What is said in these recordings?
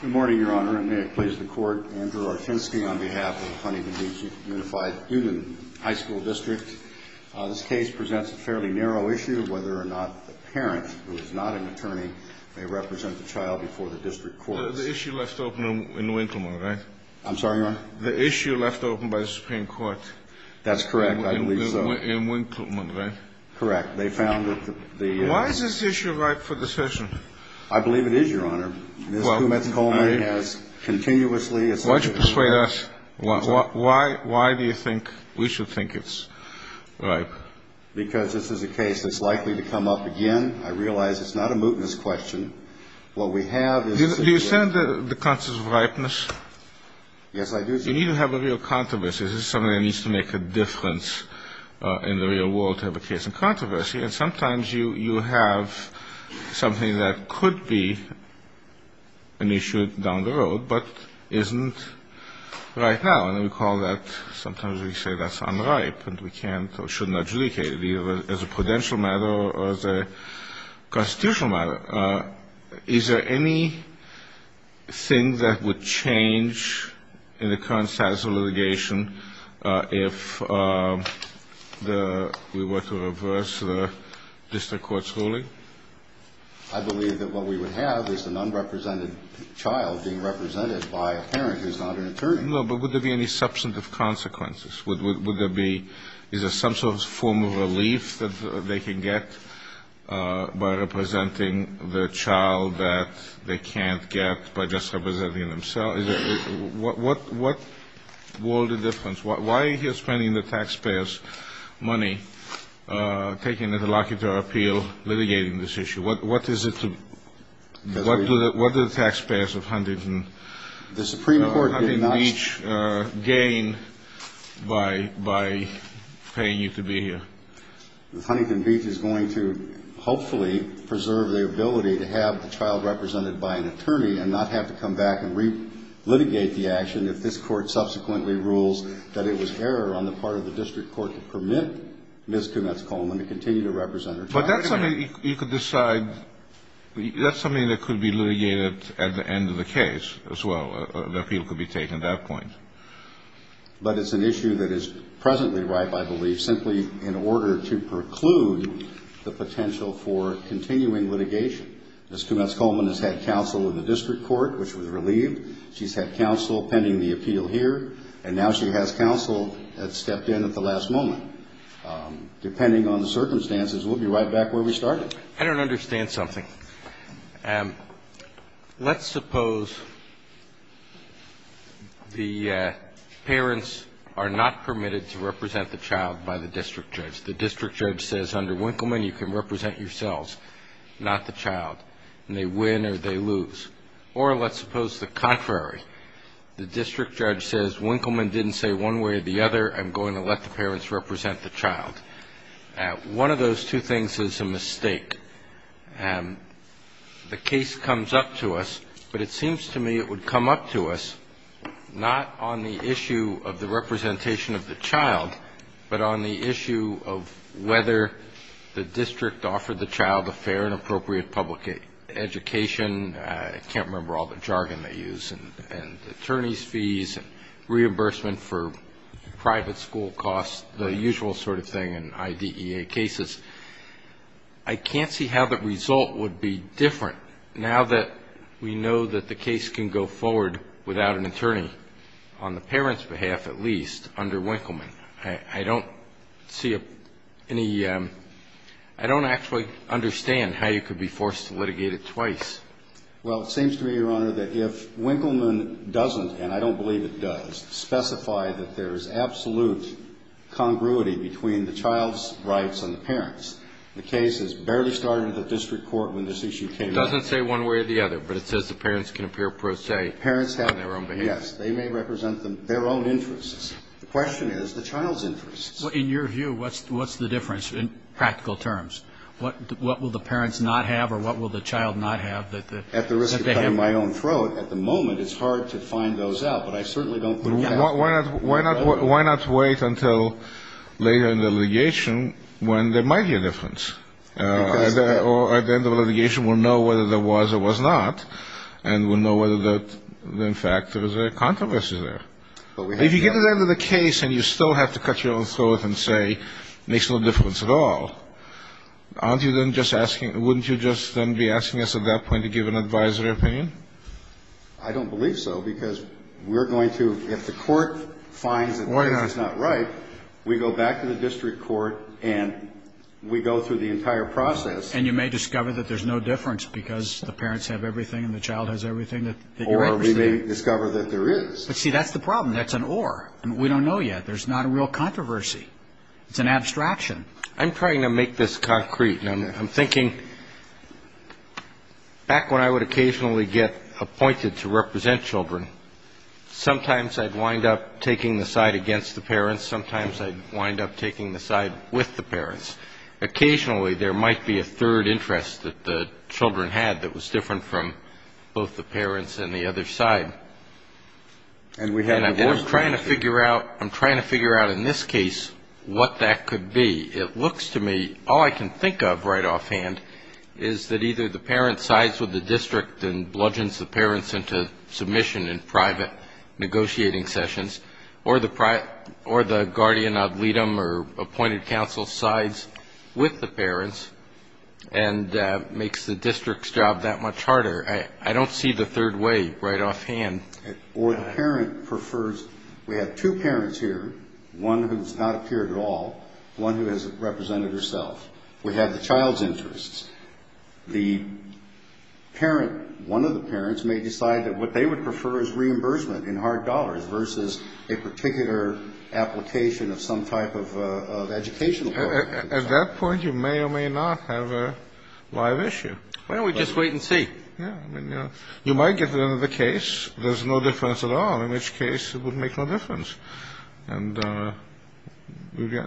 Good morning, Your Honor, and may it please the Court, Andrew Artinsky on behalf of the Huntington Beach Unified Student High School District. This case presents a fairly narrow issue, whether or not the parent, who is not an attorney, may represent the child before the district courts. The issue left open in Winkleman, right? I'm sorry, Your Honor? The issue left open by the Supreme Court. That's correct, I believe so. In Winkleman, right? Correct. They found that the... Why is this issue ripe for discussion? I believe it is, Your Honor. Ms. Gometz-Coleman has continuously... Why don't you persuade us? Why do you think we should think it's ripe? Because this is a case that's likely to come up again. I realize it's not a mootness question. What we have is... Do you stand the concept of ripeness? Yes, I do stand it. You need to have a real controversy. This is something that needs to make a difference in the real world to have a case in controversy. And sometimes you have something that could be an issue down the road but isn't right now. And we call that, sometimes we say that's unripe and we can't or shouldn't adjudicate it, either as a prudential matter or as a constitutional matter. Is there anything that would change in the current status of litigation if we were to reverse the district court's ruling? I believe that what we would have is an unrepresented child being represented by a parent who's not an attorney. No, but would there be any substantive consequences? Is there some sort of form of relief that they can get by representing the child that they can't get by just representing themselves? What would be the difference? Why are you spending the taxpayers' money taking an interlocutor appeal litigating this issue? What do the taxpayers of Huntington Beach gain by paying you to be here? Huntington Beach is going to hopefully preserve the ability to have the child represented by an attorney and not have to come back and re-litigate the action if this court subsequently rules that it was error on the part of the district court to permit Ms. Kumetz-Cohen to continue to represent her child. But that's something you could decide. That's something that could be litigated at the end of the case as well. The appeal could be taken at that point. But it's an issue that is presently ripe, I believe, simply in order to preclude the potential for continuing litigation. Ms. Kumetz-Cohen has had counsel in the district court, which was relieved. She's had counsel pending the appeal here. And now she has counsel that stepped in at the last moment. Depending on the circumstances, we'll be right back where we started. I don't understand something. Let's suppose the parents are not permitted to represent the child by the district judge. The district judge says, under Winkleman, you can represent yourselves, not the child, and they win or they lose. Or let's suppose the contrary. The district judge says, Winkleman didn't say one way or the other. I'm going to let the parents represent the child. One of those two things is a mistake. The case comes up to us, but it seems to me it would come up to us not on the issue of the representation of the child, but on the issue of whether the district offered the child a fair and appropriate public education. I can't remember all the jargon they use, and attorneys' fees, and reimbursement for private school costs, the usual sort of thing in IDEA cases. I can't see how the result would be different now that we know that the case can go forward without an attorney, on the parents' behalf at least, under Winkleman. I don't see any ñ I don't actually understand how you could be forced to litigate it twice. Well, it seems to me, Your Honor, that if Winkleman doesn't, and I don't believe it does, specify that there is absolute congruity between the child's rights and the parents, the case has barely started at the district court when this issue came up. It doesn't say one way or the other, but it says the parents can appear pro se on their own behalf. Yes, they may represent their own interests. The question is the child's interests. Well, in your view, what's the difference in practical terms? What will the parents not have or what will the child not have that they have? At the risk of cutting my own throat, at the moment it's hard to find those out, but I certainly don't believe that. Why not wait until later in the litigation when there might be a difference, or at the end of the litigation we'll know whether there was or was not, and we'll know whether, in fact, there was a controversy there. If you get to the end of the case and you still have to cut your own throat and say it makes no difference at all, aren't you then just asking, wouldn't you just then be asking us at that point to give an advisory opinion? I don't believe so, because we're going to, if the court finds that this is not right, we go back to the district court and we go through the entire process. And you may discover that there's no difference because the parents have everything and the child has everything that you're interested in. Or we may discover that there is. But, see, that's the problem. That's an or. We don't know yet. There's not a real controversy. It's an abstraction. I'm trying to make this concrete. I'm thinking back when I would occasionally get appointed to represent children, sometimes I'd wind up taking the side against the parents. Sometimes I'd wind up taking the side with the parents. Occasionally there might be a third interest that the children had that was different from both the parents and the other side. And I'm trying to figure out in this case what that could be. It looks to me, all I can think of right offhand is that either the parent sides with the district and bludgeons the parents into submission in private negotiating sessions, or the guardian ad litem or appointed counsel sides with the parents and makes the district's job that much harder. I don't see the third way right offhand. Or the parent prefers. We have two parents here, one who has not appeared at all, one who has represented herself. We have the child's interests. The parent, one of the parents, may decide that what they would prefer is reimbursement in hard dollars versus a particular application of some type of educational program. At that point, you may or may not have a live issue. Why don't we just wait and see? Yeah. You might get the end of the case. There's no difference at all, in which case it would make no difference. And you're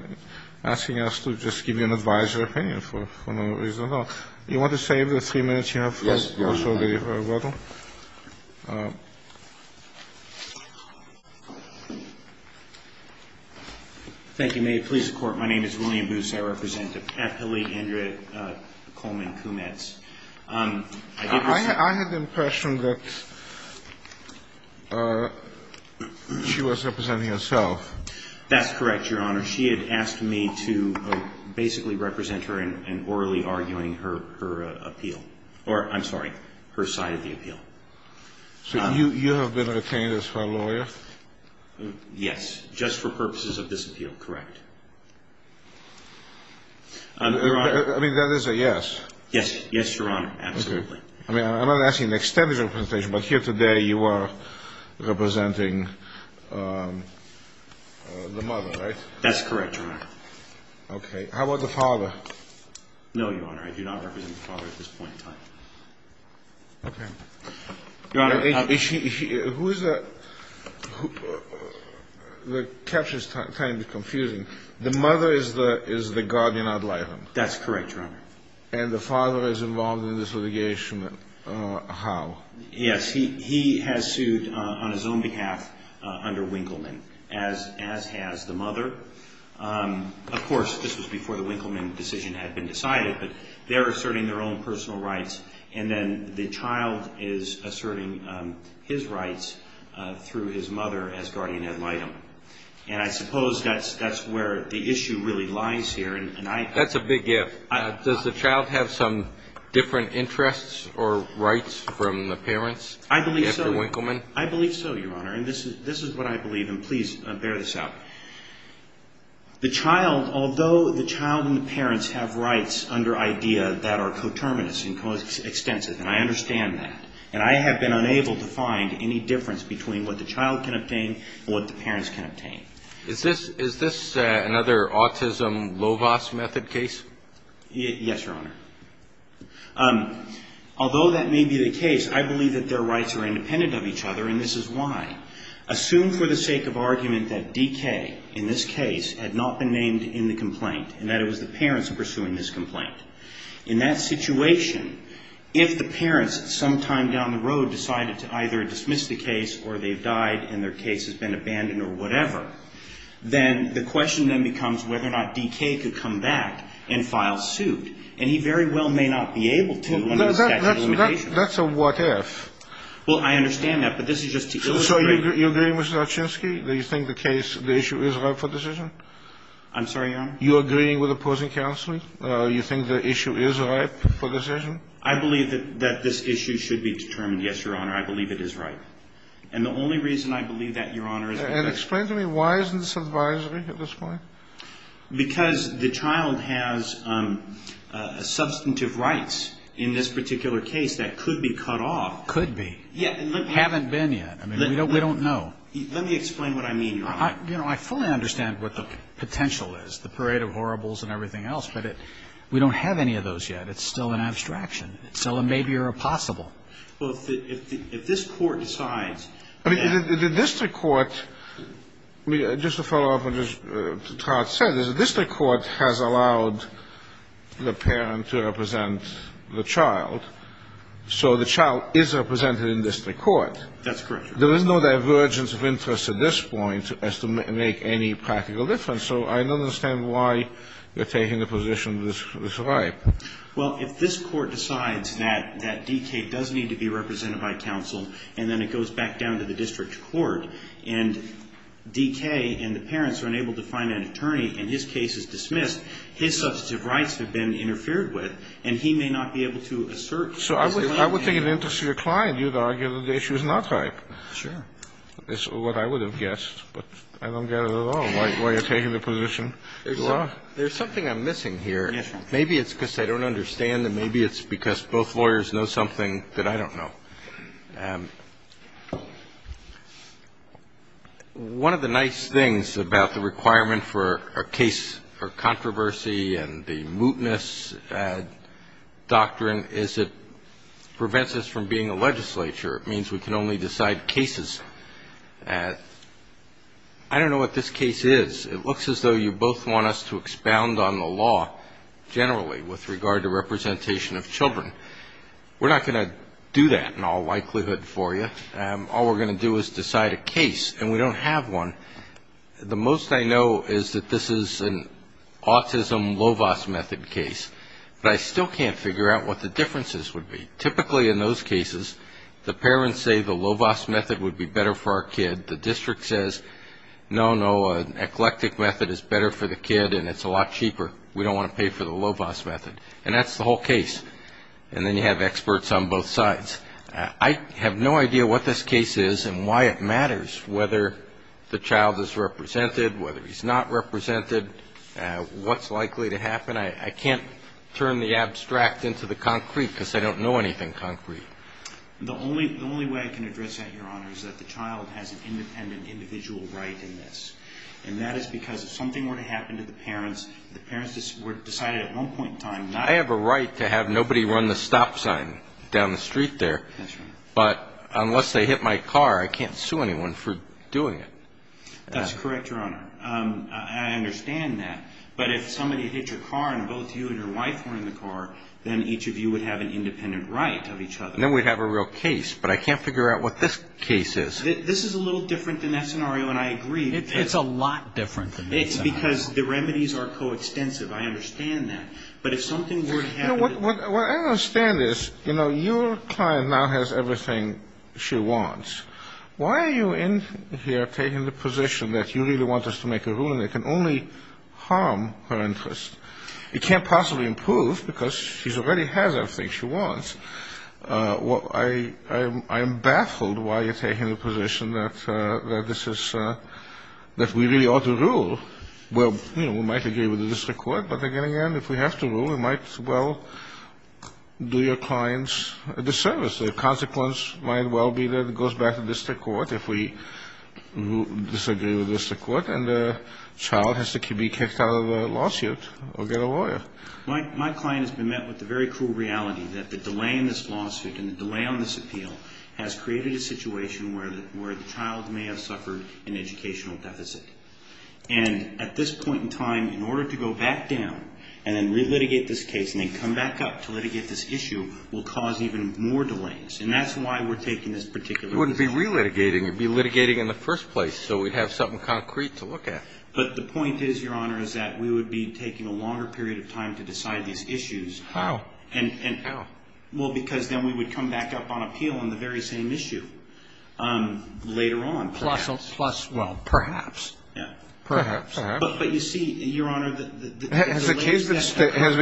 asking us to just give you an advisory opinion for no reason at all. You want to save the three minutes you have? Yes, Your Honor. Thank you. May it please the Court. My name is William Booth. I represent Appellee Andrea Coleman-Kumetz. I had the impression that she was representing herself. That's correct, Your Honor. She had asked me to basically represent her in orally arguing her appeal. Or, I'm sorry, her side of the appeal. So you have been retained as her lawyer? Yes. Just for purposes of this appeal, correct. Your Honor. I mean, that is a yes. Yes. Yes, Your Honor. Absolutely. I mean, I'm not asking an extended representation, but here today you are representing the mother, right? That's correct, Your Honor. Okay. How about the father? No, Your Honor. I do not represent the father at this point in time. Okay. Your Honor. Who is the – the caption is kind of confusing. The mother is the guardian ad litem. That's correct, Your Honor. And the father is involved in this litigation. How? Yes. He has sued on his own behalf under Winkleman, as has the mother. Of course, this was before the Winkleman decision had been decided, but they're asserting their own personal rights, and then the child is asserting his rights through his mother as guardian ad litem. And I suppose that's where the issue really lies here. That's a big if. Does the child have some different interests or rights from the parents after Winkleman? I believe so. I believe so, Your Honor, and this is what I believe, and please bear this out. The child, although the child and the parents have rights under IDEA that are coterminous and coextensive, and I understand that, and I have been unable to find any difference between what the child can obtain and what the parents can obtain. Is this another autism LOVAS method case? Yes, Your Honor. Although that may be the case, I believe that their rights are independent of each other, and this is why. Assume for the sake of argument that DK in this case had not been named in the complaint and that it was the parents pursuing this complaint. In that situation, if the parents sometime down the road decided to either dismiss the case or they've died and their case has been abandoned or whatever, then the question then becomes whether or not DK could come back and file suit, and he very well may not be able to when there's statute of limitations. That's a what if. Well, I understand that, but this is just to illustrate. So you agree, Mr. Olchinsky, that you think the case, the issue is ripe for decision? I'm sorry, Your Honor? You agree with opposing counsel? You think the issue is ripe for decision? I believe that this issue should be determined, yes, Your Honor. I believe it is ripe. And the only reason I believe that, Your Honor, is because of the fact that this case is ripe. And explain to me why isn't this advisory at this point? Because the child has substantive rights in this particular case that could be cut off. Could be. Yeah. Haven't been yet. I mean, we don't know. Let me explain what I mean, Your Honor. You know, I fully understand what the potential is, the parade of horribles and everything else, but we don't have any of those yet. It's still an abstraction. It's still a maybe or a possible. Well, if the – if this Court decides that – I mean, the district court – just to follow up on what Todd said, the district court has allowed the parent to represent the child, so the child is represented in district court. That's correct, Your Honor. There is no divergence of interest at this point as to make any practical difference, so I don't understand why you're taking the position that it's ripe. Well, if this Court decides that D.K. does need to be represented by counsel and then it goes back down to the district court and D.K. and the parents are unable to find an attorney and his case is dismissed, his substantive rights have been interfered with and he may not be able to assert his claim. So I would think in the interest of your client, you would argue that the issue is not ripe. Sure. That's what I would have guessed, but I don't get it at all, why you're taking There's something I'm missing here. Maybe it's because I don't understand and maybe it's because both lawyers know something that I don't know. One of the nice things about the requirement for a case for controversy and the mootness doctrine is it prevents us from being a legislature. It means we can only decide cases. I don't know what this case is. It looks as though you both want us to expound on the law generally with regard to representation of children. We're not going to do that in all likelihood for you. All we're going to do is decide a case, and we don't have one. The most I know is that this is an autism LOVAS method case, but I still can't figure out what the differences would be. Typically in those cases, the parents say the LOVAS method would be better for our kid. The district says, no, no, an eclectic method is better for the kid and it's a lot cheaper. We don't want to pay for the LOVAS method. And that's the whole case. And then you have experts on both sides. I have no idea what this case is and why it matters, whether the child is represented, whether he's not represented, what's likely to happen. I can't turn the abstract into the concrete because I don't know anything concrete. The only way I can address that, Your Honor, is that the child has an independent individual right in this. And that is because if something were to happen to the parents, if the parents were decided at one point in time not to do it. I have a right to have nobody run the stop sign down the street there. That's right. But unless they hit my car, I can't sue anyone for doing it. That's correct, Your Honor. I understand that. But if somebody hit your car and both you and your wife were in the car, then each of you would have an independent right of each other. Then we'd have a real case. But I can't figure out what this case is. This is a little different than that scenario, and I agree. It's a lot different than that scenario. It's because the remedies are coextensive. I understand that. But if something were to happen to the parents. What I don't understand is, you know, your client now has everything she wants. Why are you in here taking the position that you really want us to make a ruling that can only harm her interest? It can't possibly improve because she already has everything she wants. I am baffled why you're taking the position that we really ought to rule. Well, you know, we might agree with the district court. But, again, if we have to rule, it might as well do your client a disservice. The consequence might well be that it goes back to district court if we disagree with district court, and the child has to be kicked out of the lawsuit or get a lawyer. My client has been met with the very cruel reality that the delay in this lawsuit and the delay on this appeal has created a situation where the child may have suffered an educational deficit. And at this point in time, in order to go back down and then relitigate this case and then come back up to litigate this issue will cause even more delays. And that's why we're taking this particular position. We wouldn't be relitigating. You'd be litigating in the first place. So we'd have something concrete to look at. But the point is, Your Honor, is that we would be taking a longer period of time to decide these issues. How? Well, because then we would come back up on appeal on the very same issue later on. Plus, well, perhaps. Perhaps. But you see, Your Honor, the delay. Has the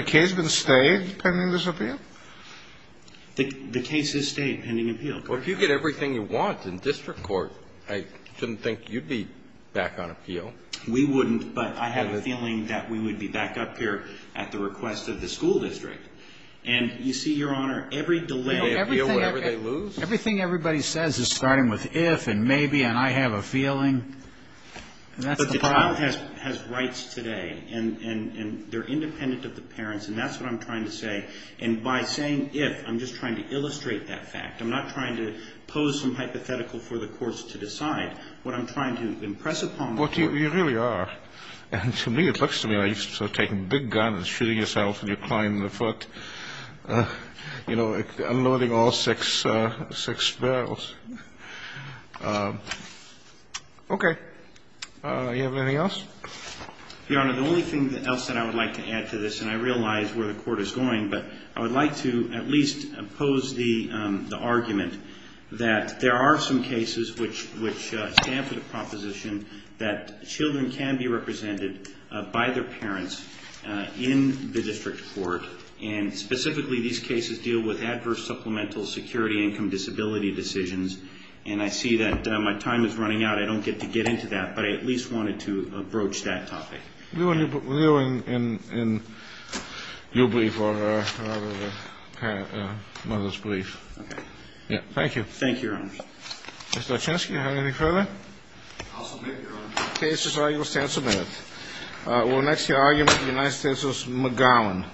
case been stayed pending this appeal? The case is stayed pending appeal. Well, if you get everything you want in district court, I shouldn't think you'd be back on appeal. We wouldn't. But I have a feeling that we would be back up here at the request of the school district. And you see, Your Honor, every delay. You know, everything everybody says is starting with if and maybe and I have a feeling. And that's the problem. But the child has rights today. And they're independent of the parents. And that's what I'm trying to say. And by saying if, I'm just trying to illustrate that fact. I'm not trying to pose some hypothetical for the courts to decide. What I'm trying to impress upon the court. Well, you really are. And to me, it looks to me like you're taking a big gun and shooting yourself with your client in the foot. You know, unloading all six barrels. Okay. Do you have anything else? Your Honor, the only thing else that I would like to add to this, and I realize where the court is going, but I would like to at least oppose the argument that there are some cases which stand for the proposition that children can be represented by their parents in the district court. And specifically, these cases deal with adverse supplemental security income disability decisions. And I see that my time is running out. I don't get to get into that. But I at least wanted to approach that topic. We were in your brief or rather the mother's brief. Okay. Thank you. Thank you, Your Honor. Mr. Olchinsky, do you have anything further? I'll submit, Your Honor. The case's argument stands submitted. We'll next hear argument of the United States v. McGowan.